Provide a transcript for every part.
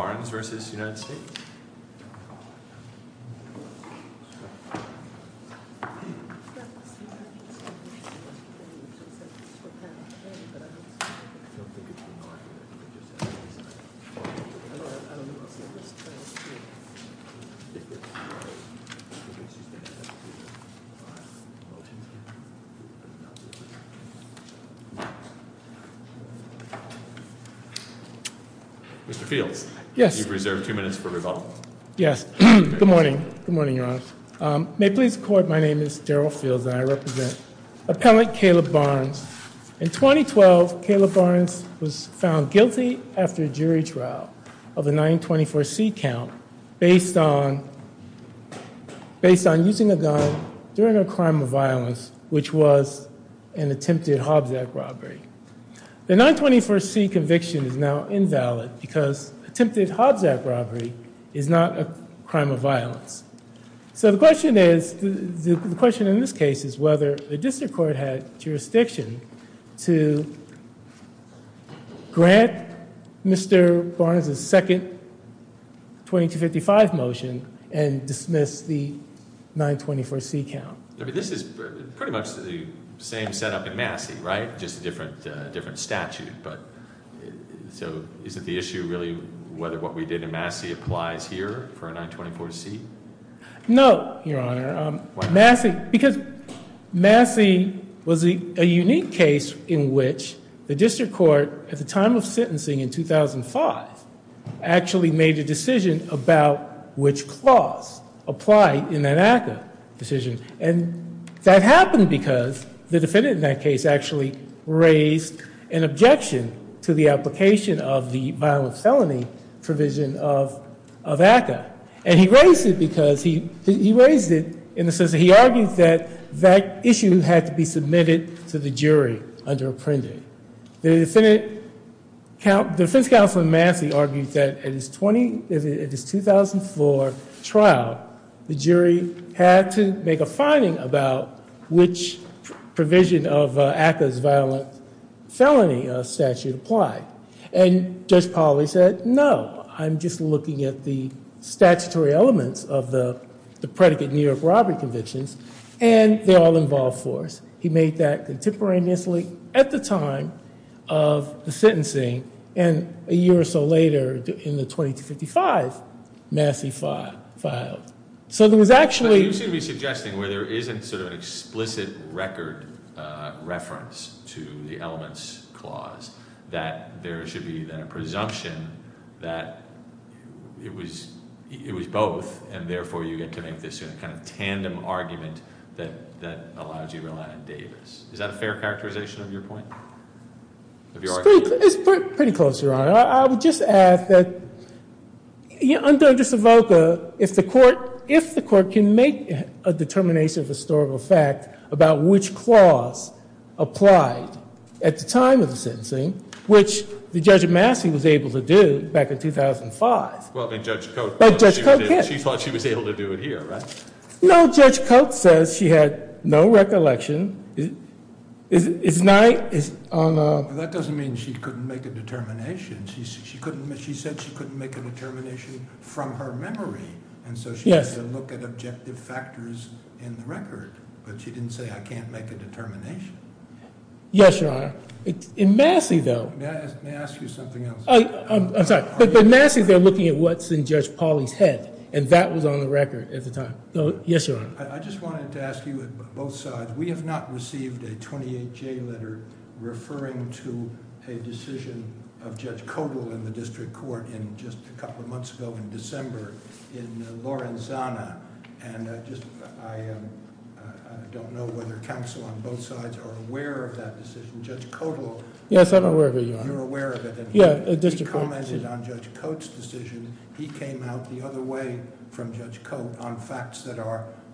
Barnes v. United States Barnes v. United States Yes. Good morning. Good morning, Your Honor. May it please the court, my name is Daryl Fields and I represent Appellant Caleb Barnes. In 2012, Caleb Barnes was found guilty after a jury trial of a 924C count based on using a gun during a crime of violence, which was an attempted Hobbs Act robbery. The 924C conviction is now invalid because attempted Hobbs Act robbery is not a crime of violence. So the question is, the question in this case is whether the district court had jurisdiction to grant Mr. Barnes' second 2255 motion and dismiss the 924C count. I mean, this is pretty much the same setup in Massey, right? Just a different statute. So is it the issue really whether what we did in Massey applies here for a 924C? No, Your Honor. Because Massey was a unique case in which the district court at the time of sentencing in 2005 actually made a decision about which clause applied in that ACCA decision. And that happened because the defendant in that case actually raised an objection to the application of the violent felony provision of ACCA. And he raised it because he raised it in the sense that he argued that that issue had to be submitted to the jury under apprending. The defense counsel in Massey argued that at his 2004 trial, the jury had to make a finding about which provision of ACCA's violent felony statute applied. And Judge Polley said, no, I'm just looking at the statutory elements of the predicate New York robbery convictions, and they're all involved for us. He made that contemporaneously at the time of the sentencing. And a year or so later in the 2255, Massey filed. You seem to be suggesting where there isn't sort of an explicit record reference to the elements clause, that there should be then a presumption that it was both, and therefore you get to make this kind of tandem argument that allows you to rely on Davis. Is that a fair characterization of your point? It's pretty close, Your Honor. I would just add that under Savolka, if the court can make a determination of historical fact about which clause applied at the time of the sentencing, which Judge Massey was able to do back in 2005. Well, Judge Coates thought she was able to do it here, right? No, Judge Coates says she had no recollection. That doesn't mean she couldn't make a determination. She said she couldn't make a determination from her memory, and so she had to look at objective factors in the record. But she didn't say, I can't make a determination. Yes, Your Honor. In Massey, though. May I ask you something else? I'm sorry. But in Massey, they're looking at what's in Judge Polley's head, and that was on the record at the time. Yes, Your Honor. I just wanted to ask you both sides. We have not received a 28-J letter referring to a decision of Judge Codal in the district court just a couple of months ago in December in Lorenzana. I don't know whether counsel on both sides are aware of that decision. Judge Codal- Yes, I'm aware of it, Your Honor. You're aware of it? Yeah, district court. He commented on Judge Codal's decision. He came out the other way from Judge Codal on facts that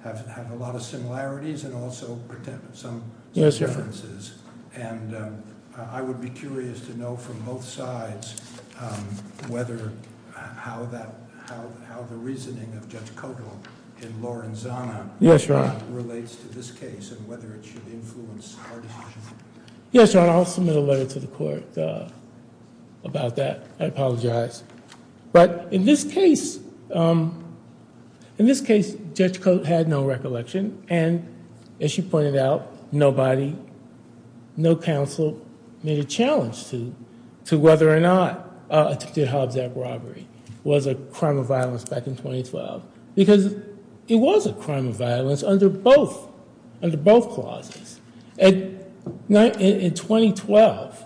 have a lot of similarities and also some differences. And I would be curious to know from both sides how the reasoning of Judge Codal in Lorenzana- Yes, Your Honor. Relates to this case and whether it should influence our decision. Yes, Your Honor. I'll submit a letter to the court about that. I apologize. But in this case, Judge Codal had no recollection. And as she pointed out, nobody, no counsel, made a challenge to whether or not attempted Hobbs Act robbery was a crime of violence back in 2012. Because it was a crime of violence under both clauses. In 2012.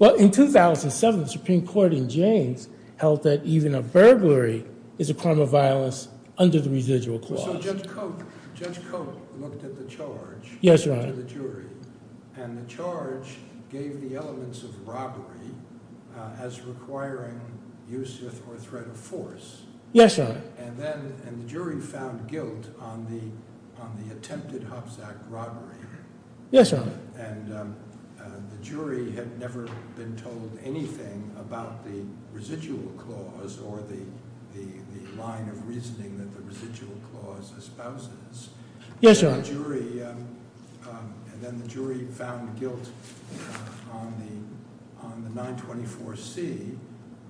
Well, in 2007, the Supreme Court in James held that even a burglary is a crime of violence under the residual clause. So Judge Codal looked at the charge- Yes, Your Honor. And the jury. And the charge gave the elements of robbery as requiring useth or threat of force. Yes, Your Honor. And then the jury found guilt on the attempted Hobbs Act robbery. Yes, Your Honor. And the jury had never been told anything about the residual clause or the line of reasoning that the residual clause espouses. Yes, Your Honor. And then the jury found guilt on the 924C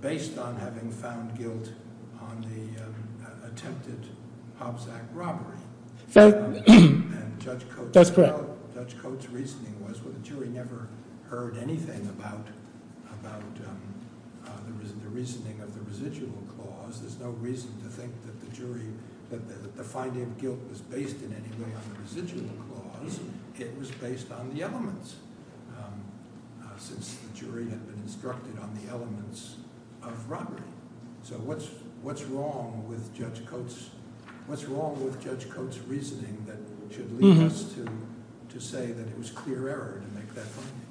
based on having found guilt on the attempted Hobbs Act robbery. That's correct. And Judge Codal's reasoning was the jury never heard anything about the reasoning of the residual clause. There's no reason to think that the finding of guilt was based in any way on the residual clause. It was based on the elements since the jury had been instructed on the elements of robbery. So what's wrong with Judge Codal's reasoning that should lead us to say that it was clear error to make that finding?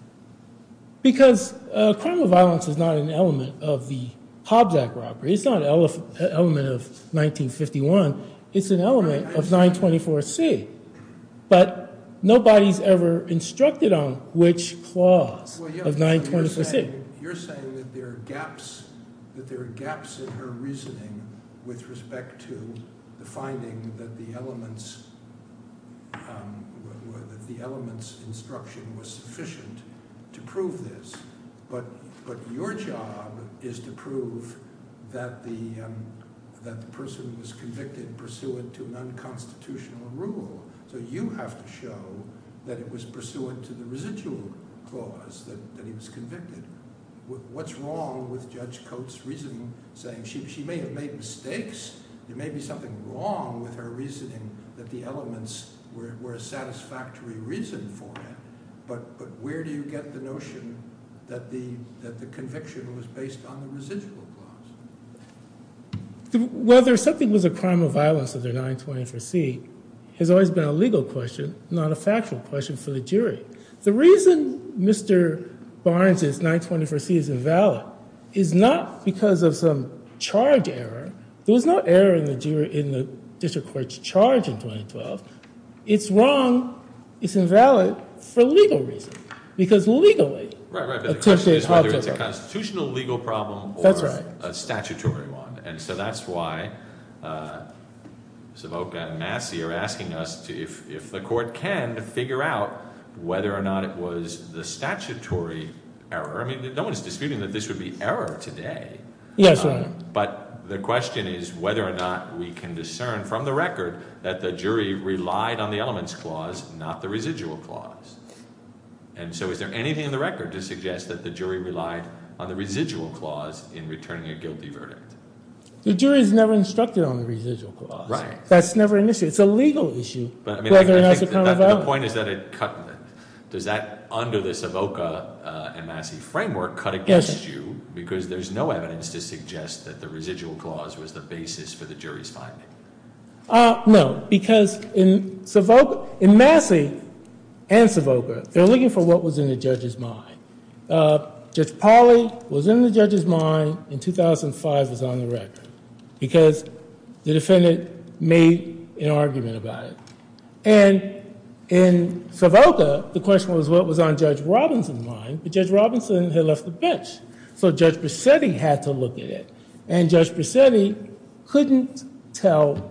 Because criminal violence is not an element of the Hobbs Act robbery. It's not an element of 1951. It's an element of 924C. But nobody's ever instructed on which clause of 924C. You're saying that there are gaps in her reasoning with respect to the finding that the elements instruction was sufficient to prove this. But your job is to prove that the person was convicted pursuant to an unconstitutional rule. So you have to show that it was pursuant to the residual clause that he was convicted. What's wrong with Judge Codal's reasoning saying she may have made mistakes? There may be something wrong with her reasoning that the elements were a satisfactory reason for it. But where do you get the notion that the conviction was based on the residual clause? Whether something was a crime of violence under 924C has always been a legal question, not a factual question for the jury. The reason Mr. Barnes' 924C is invalid is not because of some charge error. There was no error in the district court's charge in 2012. It's wrong. It's invalid for legal reasons. Because legally- Right, right, but the question is whether it's a constitutional legal problem or a statutory one. And so that's why Savocca and Massey are asking us if the court can figure out whether or not it was the statutory error. I mean, no one's disputing that this would be error today. Yes, Your Honor. But the question is whether or not we can discern from the record that the jury relied on the elements clause, not the residual clause. And so is there anything in the record to suggest that the jury relied on the residual clause in returning a guilty verdict? The jury's never instructed on the residual clause. Right. That's never an issue. It's a legal issue, whether or not it's a crime of violence. The point is that it cut – does that under the Savocca and Massey framework cut against you because there's no evidence to suggest that the residual clause was the basis for the jury's finding? No, because in Savocca – in Massey and Savocca, they're looking for what was in the judge's mind. Judge Polley was in the judge's mind in 2005. It was on the record because the defendant made an argument about it. And in Savocca, the question was what was on Judge Robinson's mind, but Judge Robinson had left the bench. So Judge Bassetti had to look at it. And Judge Bassetti couldn't tell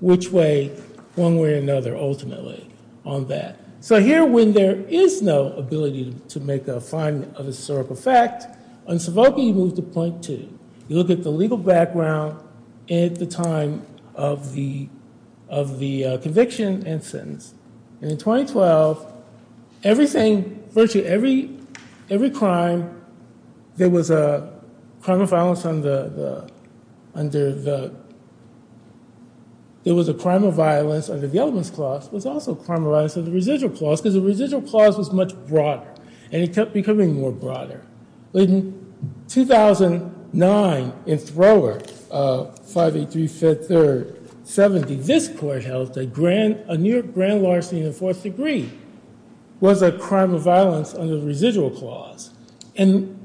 which way one way or another ultimately on that. So here when there is no ability to make a finding of a historical fact, on Savocca you move to point two. You look at the legal background at the time of the conviction and sentence. And in 2012, everything – virtually every crime that was a crime of violence under the – there was a crime of violence under the elements clause was also a crime of violence under the residual clause because the residual clause was much broader. And it kept becoming more broader. In 2009 in Thrower, 583, 5th, 3rd, 70, this court held that grand larceny in the fourth degree was a crime of violence under the residual clause. And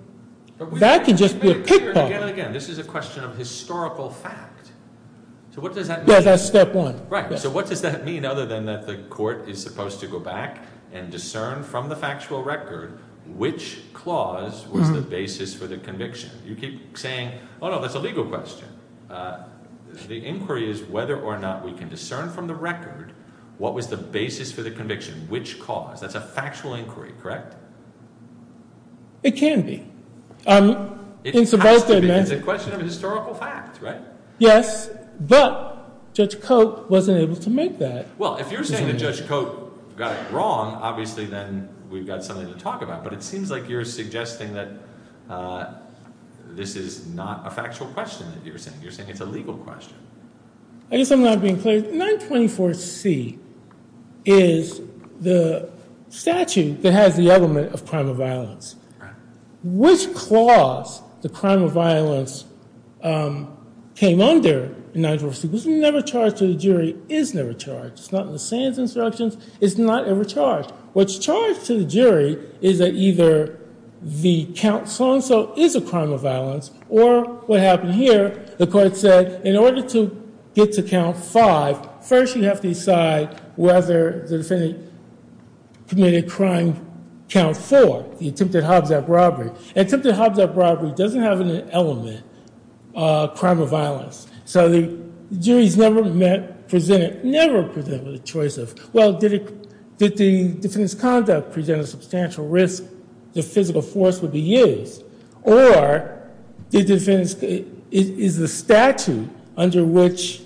that could just be a kickball. Again, again, this is a question of historical fact. So what does that mean? Yes, that's step one. Right. So what does that mean other than that the court is supposed to go back and discern from the factual record which clause was the basis for the conviction? You keep saying, oh, no, that's a legal question. The inquiry is whether or not we can discern from the record what was the basis for the conviction, which cause. That's a factual inquiry, correct? It can be. It has to be because it's a question of historical fact, right? Yes, but Judge Cote wasn't able to make that. Well, if you're saying that Judge Cote got it wrong, obviously then we've got something to talk about. But it seems like you're suggesting that this is not a factual question that you're saying. You're saying it's a legal question. I guess I'm not being clear. 924C is the statute that has the element of crime of violence. Which clause the crime of violence came under in 924C was never charged to the jury, is never charged. It's not in the Sands Instructions. It's not ever charged. What's charged to the jury is that either the count so-and-so is a crime of violence or what happened here, the court said, in order to get to count five, first you have to decide whether the defendant committed a crime count four, the attempted Hobbs Act robbery. The attempted Hobbs Act robbery doesn't have an element of crime of violence. So the jury's never presented with a choice of, well, did the defendant's conduct present a substantial risk the physical force would be used? Or is the statute under which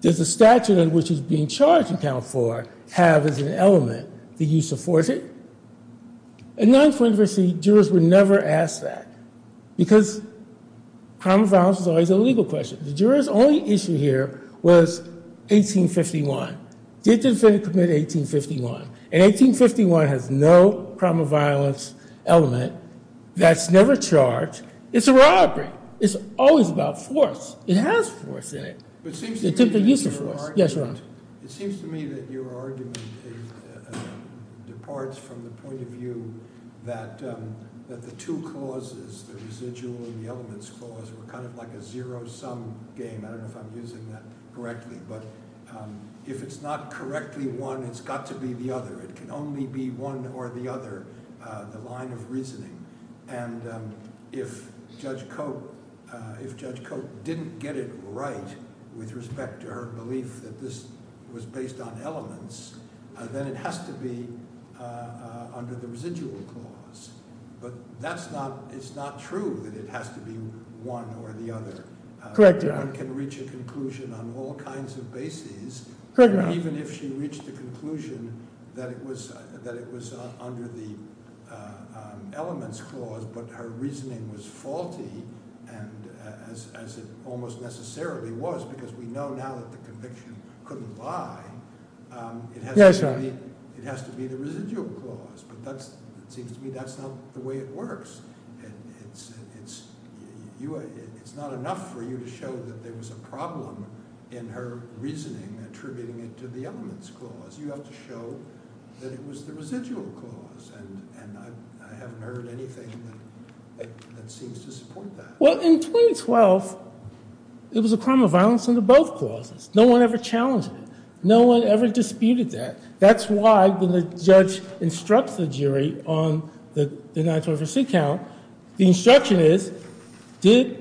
there's a statute in which he's being charged in count four have as an element that you support it? In 924C, jurors were never asked that. Because crime of violence is always a legal question. The juror's only issue here was 1851. Did the defendant commit 1851? And 1851 has no crime of violence element that's never charged. It's a robbery. It's always about force. It has force in it. It took the use of force. Yes, Ron? It seems to me that your argument departs from the point of view that the two causes, the residual and the elements clause, were kind of like a zero-sum game. I don't know if I'm using that correctly. But if it's not correctly one, it's got to be the other. It can only be one or the other, the line of reasoning. And if Judge Cope didn't get it right with respect to her belief that this was based on elements, then it has to be under the residual clause. But it's not true that it has to be one or the other. Correct, Your Honor. No one can reach a conclusion on all kinds of bases, even if she reached a conclusion that it was under the elements clause. But her reasoning was faulty, as it almost necessarily was, because we know now that the conviction couldn't lie. Yes, Your Honor. It has to be the residual clause. But it seems to me that's not the way it works. It's not enough for you to show that there was a problem in her reasoning attributing it to the elements clause. You have to show that it was the residual clause. And I haven't heard anything that seems to support that. Well, in 2012, it was a crime of violence under both clauses. No one ever challenged it. No one ever disputed that. That's why, when the judge instructs the jury on the 9-12 receipt count, the instruction is, did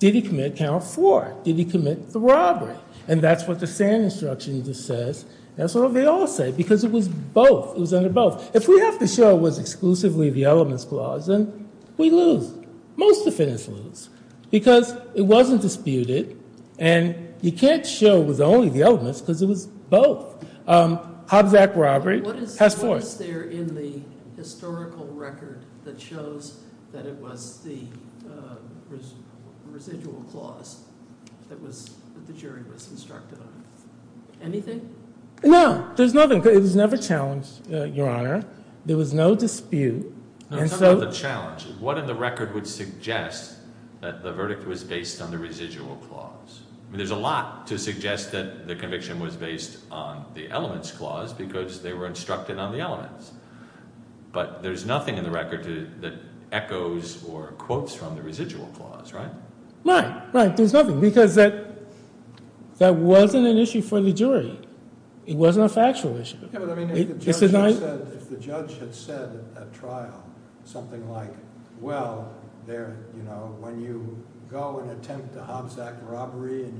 he commit count 4? Did he commit the robbery? And that's what the Sand Instruction just says. That's what they all say, because it was both. It was under both. If we have to show it was exclusively the elements clause, then we lose. Most defendants lose, because it wasn't disputed. And you can't show it was only the elements, because it was both. Hobbs Act robbery has 4. What is there in the historical record that shows that it was the residual clause that the jury was instructed on? Anything? No. There's nothing. It was never challenged, Your Honor. There was no dispute. No, it's not about the challenge. What in the record would suggest that the verdict was based on the residual clause? There's a lot to suggest that the conviction was based on the elements clause, because they were instructed on the elements. But there's nothing in the record that echoes or quotes from the residual clause, right? Right. There's nothing, because that wasn't an issue for the jury. It wasn't a factual issue. If the judge had said at trial something like, well, when you go and attempt a Hobbs Act robbery and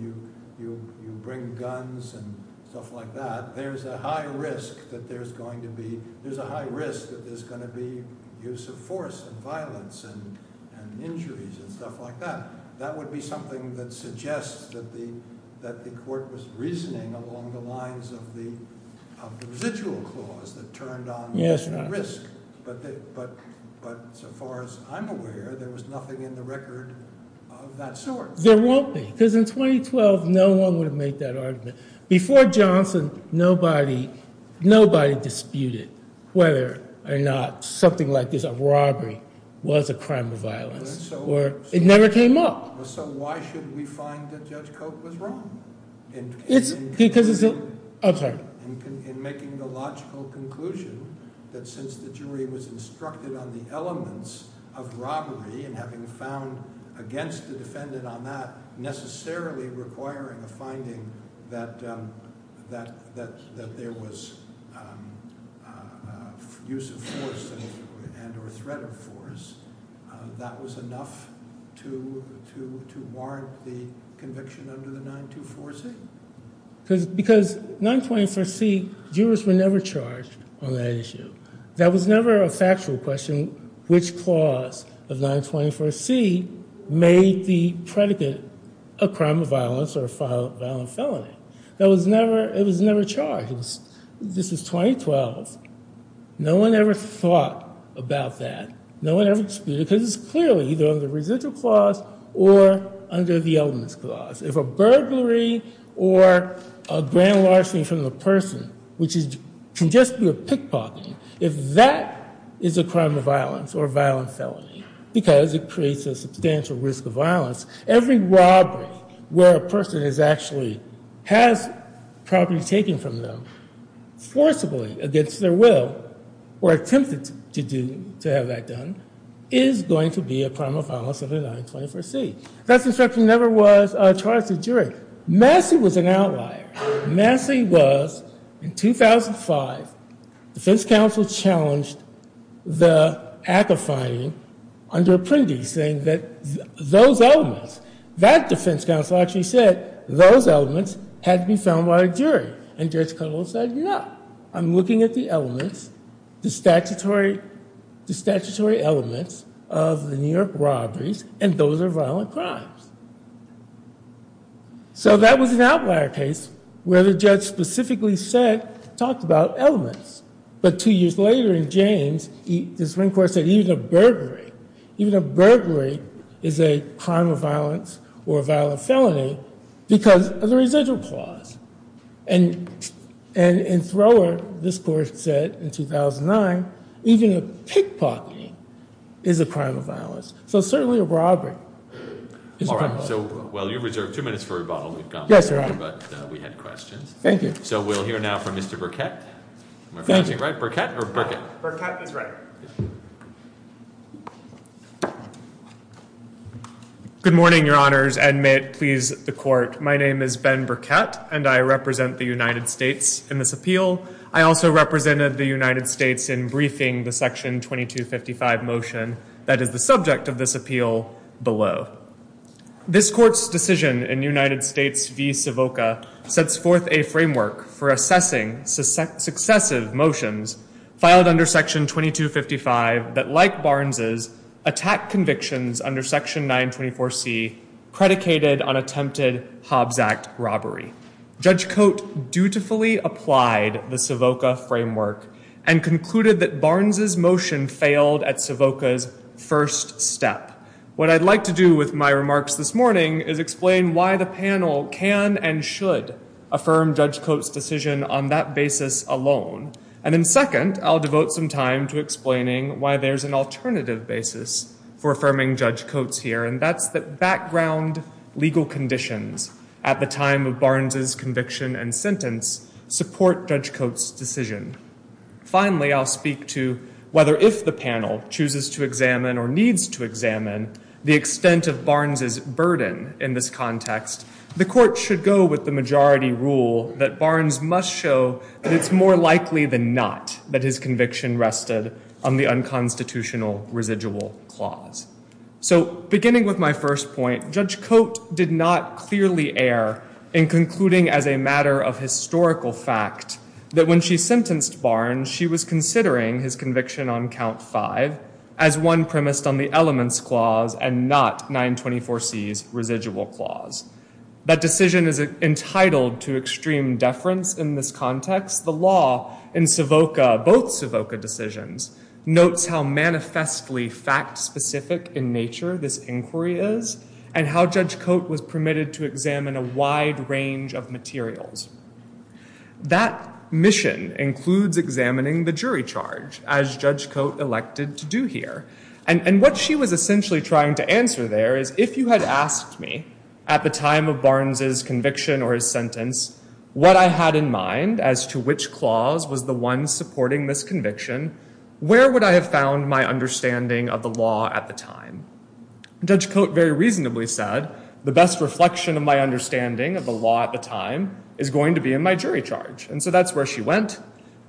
you bring guns and stuff like that, there's a high risk that there's going to be use of force and violence and injuries and stuff like that. That would be something that suggests that the court was reasoning along the lines of the residual clause that turned on the risk. But so far as I'm aware, there was nothing in the record of that sort. There won't be, because in 2012, no one would have made that argument. Before Johnson, nobody disputed whether or not something like this, a robbery, was a crime of violence. It never came up. So why should we find that Judge Cope was wrong in making the logical conclusion that since the jury was instructed on the elements of robbery and having found against the defendant on that necessarily requiring a finding that there was use of force and or threat of force, that was enough to warrant the conviction under the 924C? Because 924C, jurors were never charged on that issue. That was never a factual question, which clause of 924C made the predicate a crime of violence or a violent felony. It was never charged. This was 2012. No one ever thought about that. No one ever disputed it because it's clearly either under the residual clause or under the elements clause. If a burglary or a grand larceny from the person, which can just be a pickpocketing, if that is a crime of violence or a violent felony because it creates a substantial risk of violence, every robbery where a person has property taken from them forcibly against their will or attempted to have that done is going to be a crime of violence under 924C. Thus, in fact, he never was charged as a jury. Massey was an outlier. Massey was in 2005. Defense counsel challenged the act of finding under Apprendi saying that those elements, that defense counsel actually said those elements had to be found by a jury. And Judge Kudlow said, no. I'm looking at the elements, the statutory elements of the New York robberies, and those are violent crimes. So that was an outlier case where the judge specifically said, talked about elements. But two years later in James, the Supreme Court said even a burglary, even a burglary is a crime of violence or a violent felony because of the residual clause. And in Thrower, this court said in 2009, even a pickpocketing is a crime of violence. So certainly a robbery is a crime of violence. Well, you reserve two minutes for rebuttal. Yes, Your Honor. But we had questions. Thank you. So we'll hear now from Mr. Burkett. Am I pronouncing it right, Burkett or Burkett? Burkett is right. Good morning, Your Honors, and may it please the court. My name is Ben Burkett, and I represent the United States in this appeal. I also represented the United States in briefing the Section 2255 motion that is the subject of this appeal below. This court's decision in United States v. Savoca sets forth a framework for assessing successive motions filed under Section 2255 that, like Barnes's, attack convictions under Section 924C predicated on attempted Hobbs Act robbery. Judge Coate dutifully applied the Savoca framework and concluded that Barnes's motion failed at Savoca's first step. What I'd like to do with my remarks this morning is explain why the panel can and should affirm Judge Coate's decision on that basis alone. And then second, I'll devote some time to explaining why there's an alternative basis for affirming Judge Coate's here, and that's that background legal conditions at the time of Barnes's conviction and sentence support Judge Coate's decision. Finally, I'll speak to whether if the panel chooses to examine or needs to examine the extent of Barnes's burden in this context, the court should go with the majority rule that Barnes must show that it's more likely than not that his conviction rested on the unconstitutional residual clause. So beginning with my first point, Judge Coate did not clearly err in concluding as a matter of historical fact that when she sentenced Barnes, she was considering his conviction on count five as one premised on the elements clause and not 924C's residual clause. That decision is entitled to extreme deference in this context. The law in Savoca, both Savoca decisions, notes how manifestly fact-specific in nature this inquiry is and how Judge Coate was permitted to examine a wide range of materials. That mission includes examining the jury charge, as Judge Coate elected to do here. And what she was essentially trying to answer there is if you had asked me at the time of Barnes's conviction or his sentence what I had in mind as to which clause was the one supporting this conviction, where would I have found my understanding of the law at the time? Judge Coate very reasonably said the best reflection of my understanding of the law at the time is going to be in my jury charge. And so that's where she went.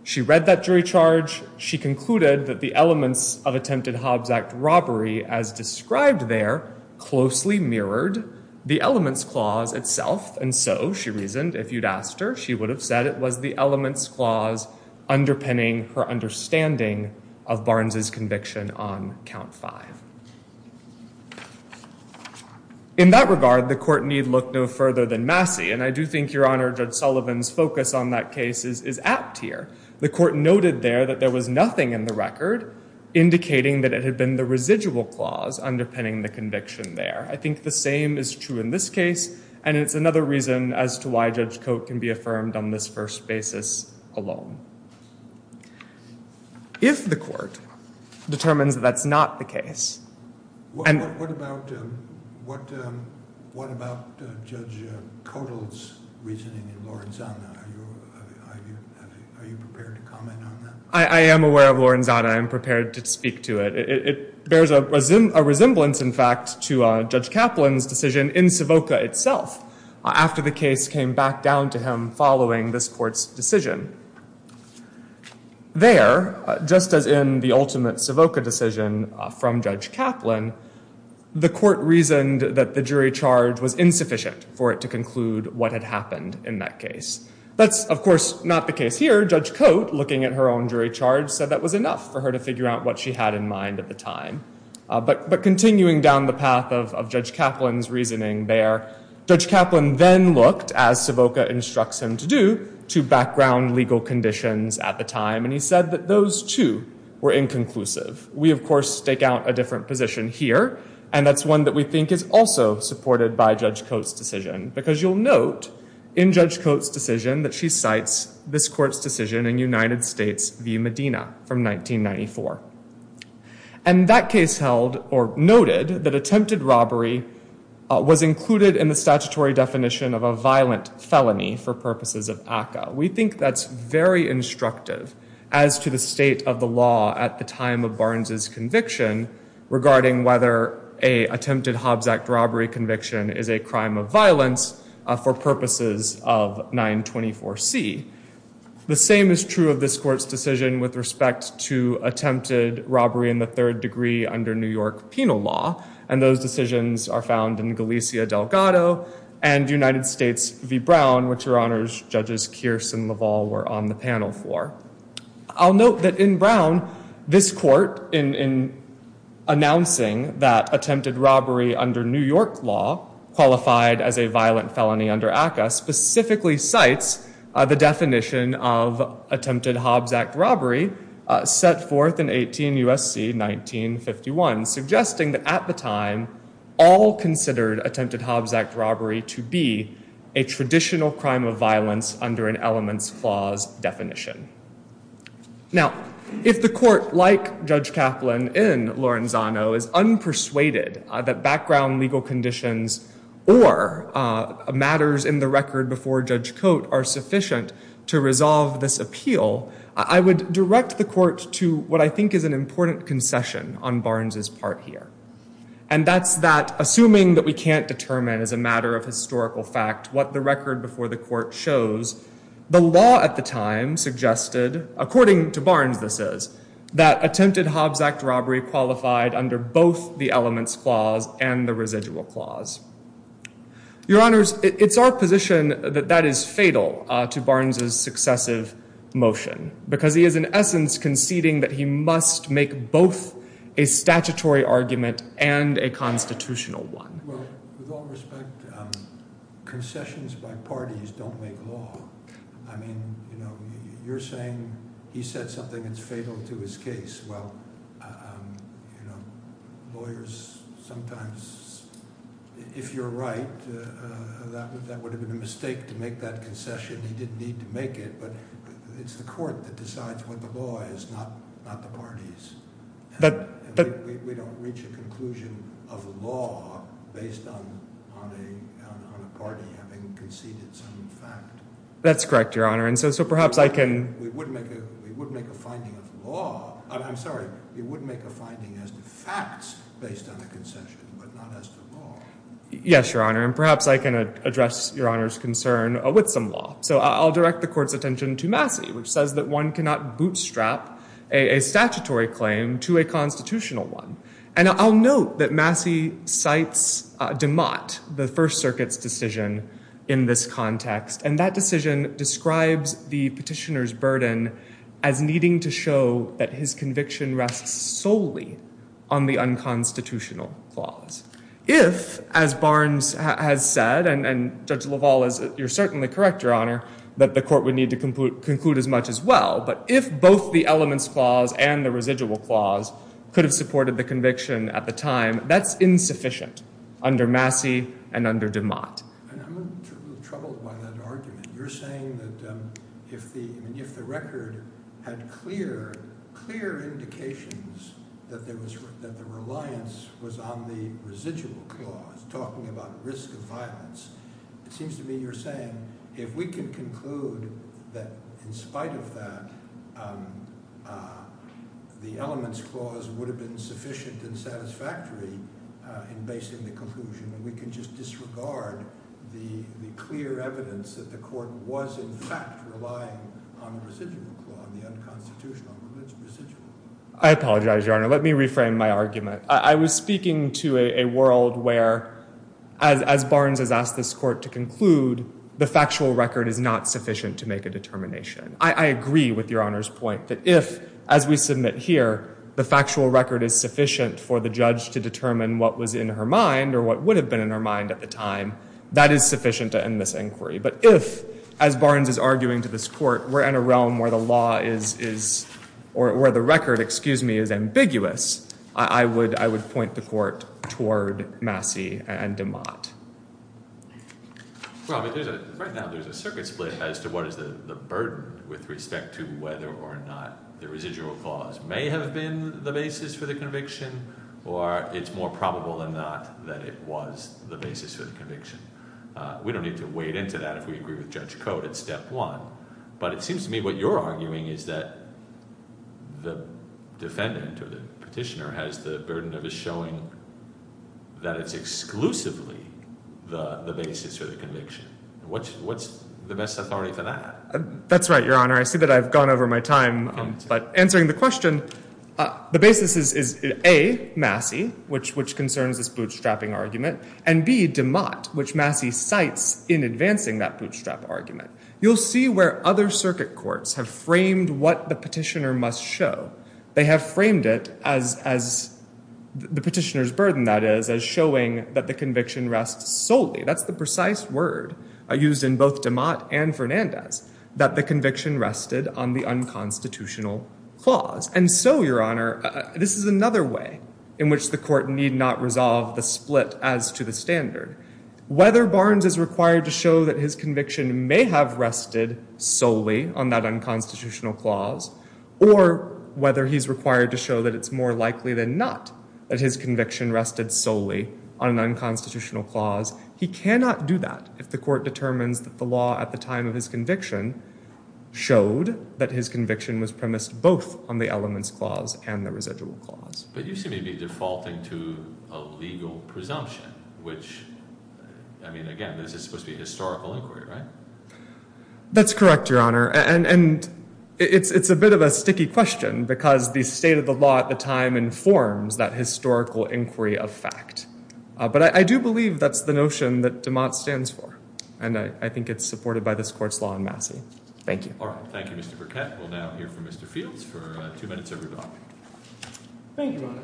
She read that jury charge. She concluded that the elements of attempted Hobbes Act robbery, as described there, closely mirrored the elements clause itself. And so, she reasoned, if you'd asked her, she would have said it was the elements clause underpinning her understanding of Barnes's conviction on count five. In that regard, the court need look no further than Massey. And I do think, Your Honor, Judge Sullivan's focus on that case is apt here. The court noted there that there was nothing in the record indicating that it had been the residual clause underpinning the conviction there. I think the same is true in this case. And it's another reason as to why Judge Coate can be affirmed on this first basis alone. If the court determines that that's not the case. What about Judge Kotel's reasoning in Lorenzana? Are you prepared to comment on that? I am aware of Lorenzana. I am prepared to speak to it. It bears a resemblance, in fact, to Judge Kaplan's decision in Savoca itself after the case came back down to him following this court's decision. There, just as in the ultimate Savoca decision from Judge Kaplan, the court reasoned that the jury charge was insufficient for it to conclude what had happened in that case. That's, of course, not the case here. Judge Coate, looking at her own jury charge, said that was enough for her to figure out what she had in mind at the time. But continuing down the path of Judge Kaplan's reasoning there, Judge Kaplan then looked, as Savoca instructs him to do, to background legal conditions at the time. And he said that those, too, were inconclusive. We, of course, stake out a different position here. And that's one that we think is also supported by Judge Coate's decision. Because you'll note in Judge Coate's decision that she cites this court's decision in United States v. Medina from 1994. And that case held, or noted, that attempted robbery was included in the statutory definition of a violent felony for purposes of ACCA. We think that's very instructive as to the state of the law at the time of Barnes' conviction regarding whether an attempted Hobbs Act robbery conviction is a crime of violence for purposes of 924C. The same is true of this court's decision with respect to attempted robbery in the third degree under New York penal law. And those decisions are found in Galicia Delgado and United States v. Brown, which Your Honors Judges Kearse and Lavall were on the panel for. I'll note that in Brown, this court, in announcing that attempted robbery under New York law, qualified as a violent felony under ACCA, specifically cites the definition of attempted Hobbs Act robbery set forth in 18 USC 1951, suggesting that at the time, all considered attempted Hobbs Act robbery to be a traditional crime of violence under an elements clause definition. Now, if the court, like Judge Kaplan in Lorenzano, is unpersuaded that background legal conditions or matters in the record before Judge Coate are sufficient to resolve this appeal, I would direct the court to what I think is an important concession on Barnes' part here. And that's that, assuming that we can't determine as a matter of historical fact what the record before the court shows, the law at the time suggested, according to Barnes this is, that attempted Hobbs Act robbery qualified under both the elements clause and the residual clause. Your Honors, it's our position that that is fatal to Barnes' successive motion, because he is in essence conceding that he must make both a statutory argument and a constitutional one. Well, with all respect, concessions by parties don't make law. I mean, you're saying he said something that's fatal to his case. Well, lawyers sometimes, if you're right, that would have been a mistake to make that concession. He didn't need to make it, but it's the court that decides what the law is, not the parties. We don't reach a conclusion of law based on a party having conceded some fact. That's correct, Your Honor. We would make a finding of law. I'm sorry, we would make a finding as to facts based on a concession, but not as to law. Yes, Your Honor, and perhaps I can address Your Honor's concern with some law. So I'll direct the court's attention to Massey, which says that one cannot bootstrap a statutory claim to a constitutional one. And I'll note that Massey cites DeMott, the First Circuit's decision in this context, and that decision describes the petitioner's burden as needing to show that his conviction rests solely on the unconstitutional clause. If, as Barnes has said, and Judge LaValle, you're certainly correct, Your Honor, that the court would need to conclude as much as well, but if both the elements clause and the residual clause could have supported the conviction at the time, that's insufficient under Massey and under DeMott. I'm a little troubled by that argument. You're saying that if the record had clear indications that the reliance was on the residual clause, talking about risk of violence, it seems to me you're saying if we can conclude that in spite of that, the elements clause would have been sufficient and satisfactory in basing the conclusion, then we can just disregard the clear evidence that the court was, in fact, relying on the residual clause, the unconstitutional. I apologize, Your Honor. Let me reframe my argument. I was speaking to a world where, as Barnes has asked this court to conclude, the factual record is not sufficient to make a determination. I agree with Your Honor's point that if, as we submit here, the factual record is sufficient for the judge to determine what was in her mind or what would have been in her mind at the time, that is sufficient to end this inquiry. But if, as Barnes is arguing to this court, we're in a realm where the law is, or where the record, excuse me, is ambiguous, I would point the court toward Massey and DeMott. Well, right now there's a circuit split as to what is the burden with respect to whether or not the residual clause may have been the basis for the conviction or it's more probable than not that it was the basis for the conviction. We don't need to wade into that if we agree with Judge Cote. It's step one. But it seems to me what you're arguing is that the defendant or the petitioner has the burden of showing that it's exclusively the basis for the conviction. What's the best authority for that? That's right, Your Honor. I see that I've gone over my time. But answering the question, the basis is, A, Massey, which concerns this bootstrapping argument, and, B, DeMott, which Massey cites in advancing that bootstrap argument. You'll see where other circuit courts have framed what the petitioner must show. They have framed it as the petitioner's burden, that is, as showing that the conviction rests solely. That's the precise word used in both DeMott and Fernandez, that the conviction rested on the unconstitutional clause. And so, Your Honor, this is another way in which the court need not resolve the split as to the standard. Whether Barnes is required to show that his conviction may have rested solely on that unconstitutional clause, or whether he's required to show that it's more likely than not that his conviction rested solely on an unconstitutional clause, he cannot do that if the court determines that the law at the time of his conviction showed that his conviction was premised both on the elements clause and the residual clause. But you seem to be defaulting to a legal presumption, which, I mean, again, this is supposed to be historical inquiry, right? That's correct, Your Honor. And it's a bit of a sticky question because the state of the law at the time informs that historical inquiry of fact. But I do believe that's the notion that DeMott stands for, and I think it's supported by this Court's law in Massey. Thank you. All right. Thank you, Mr. Burkett. We'll now hear from Mr. Fields for two minutes everybody. Thank you, Your Honor.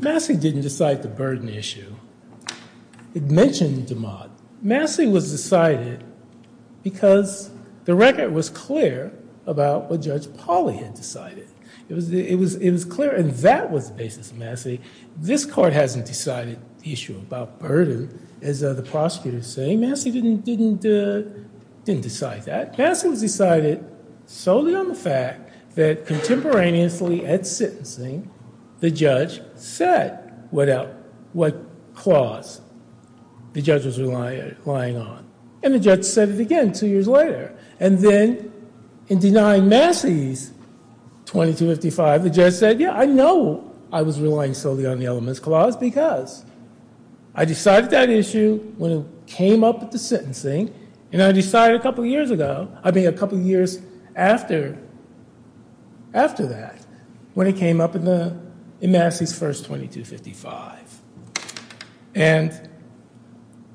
Massey didn't decide the burden issue. It mentioned DeMott. Massey was decided because the record was clear about what Judge Pauley had decided. It was clear, and that was the basis of Massey. This Court hasn't decided the issue about burden, as the prosecutors say. Massey didn't decide that. Massey was decided solely on the fact that contemporaneously at sentencing, the judge said what clause the judge was relying on. And the judge said it again two years later. And then in denying Massey's 2255, the judge said, yeah, I know I was relying solely on the elements clause because I decided that issue when it came up at the sentencing. And I decided a couple of years ago, I mean a couple of years after that, when it came up in Massey's first 2255. And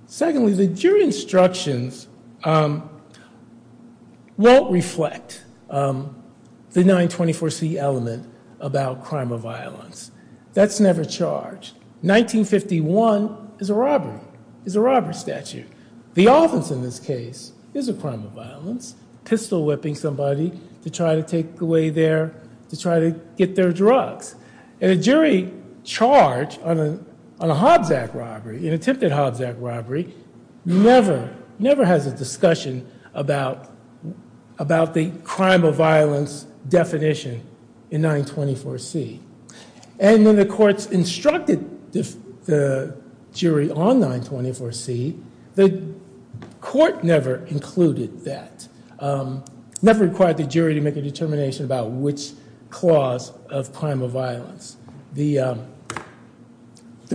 secondly, the jury instructions won't reflect the 924C element about crime of violence. That's never charged. 1951 is a robbery. It's a robbery statute. The offense in this case is a crime of violence, pistol whipping somebody to try to take away their, to try to get their drugs. And a jury charge on a Hobbs Act robbery, an attempted Hobbs Act robbery, never has a discussion about the crime of violence definition in 924C. And then the courts instructed the jury on 924C. The court never included that, never required the jury to make a determination about which clause of crime of violence. The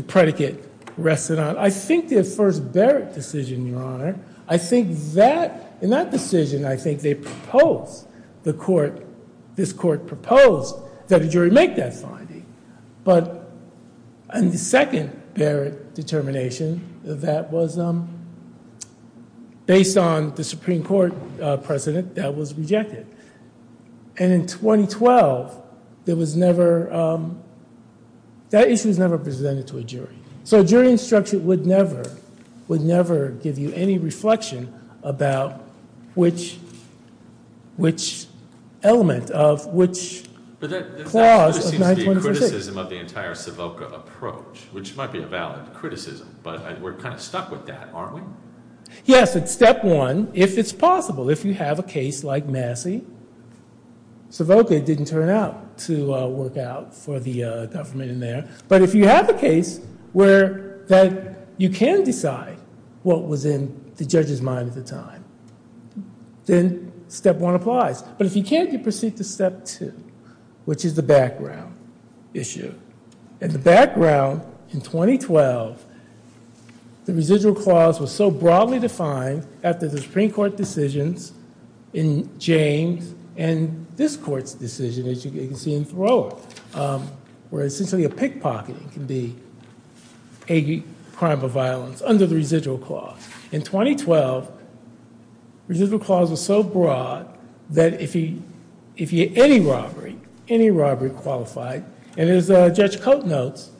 predicate rested on, I think, the first Barrett decision, Your Honor. I think that, in that decision, I think they proposed, the court, this court proposed that a jury make that finding. But in the second Barrett determination, that was based on the Supreme Court precedent that was rejected. And in 2012, there was never, that issue was never presented to a jury. So a jury instruction would never, would never give you any reflection about which, which element of which clause of 924C. But that really seems to be a criticism of the entire Savoka approach, which might be a valid criticism. But we're kind of stuck with that, aren't we? Yes, it's step one, if it's possible. If you have a case like Massey, Savoka didn't turn out to work out for the government in there. But if you have a case where, that you can decide what was in the judge's mind at the time, then step one applies. But if you can't, you proceed to step two, which is the background issue. And the background in 2012, the residual clause was so broadly defined after the Supreme Court decisions in James and this court's decision, as you can see in Thoreau. Where essentially a pickpocketing can be a crime of violence under the residual clause. In 2012, residual clause was so broad that if he, if he, any robbery, any robbery qualified. And as Judge Cote notes,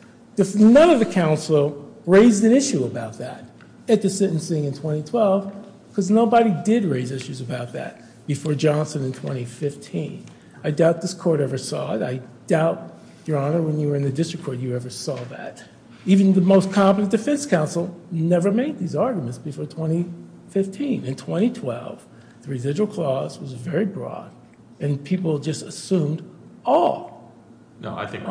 none of the counsel raised an issue about that at the sentencing in 2012. Because nobody did raise issues about that before Johnson in 2015. I doubt this court ever saw it. I doubt, Your Honor, when you were in the district court, you ever saw that. Even the most competent defense counsel never made these arguments before 2015. In 2012, the residual clause was very broad, and people just assumed all. No, I think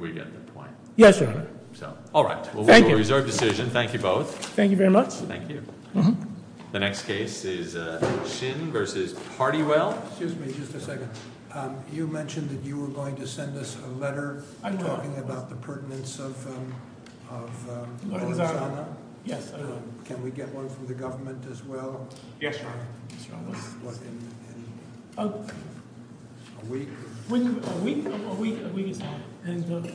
we get the point. Yes, Your Honor. So, all right. Thank you. Well, we'll reserve decision. Thank you both. Thank you very much. Thank you. The next case is Shin versus Hardywell. Excuse me just a second. You mentioned that you were going to send us a letter. I know. Talking about the pertinence of- Yes, I know. Can we get one from the government as well? Yes, Your Honor. What, in a week? A week? A week is fine.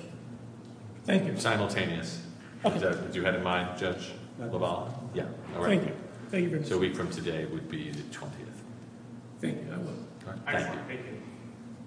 Thank you. Simultaneous. Okay. As you had in mind, Judge LaValle. Yeah, all right. Thank you. So a week from today would be the 20th. Thank you. I will. Excellent. Thank you.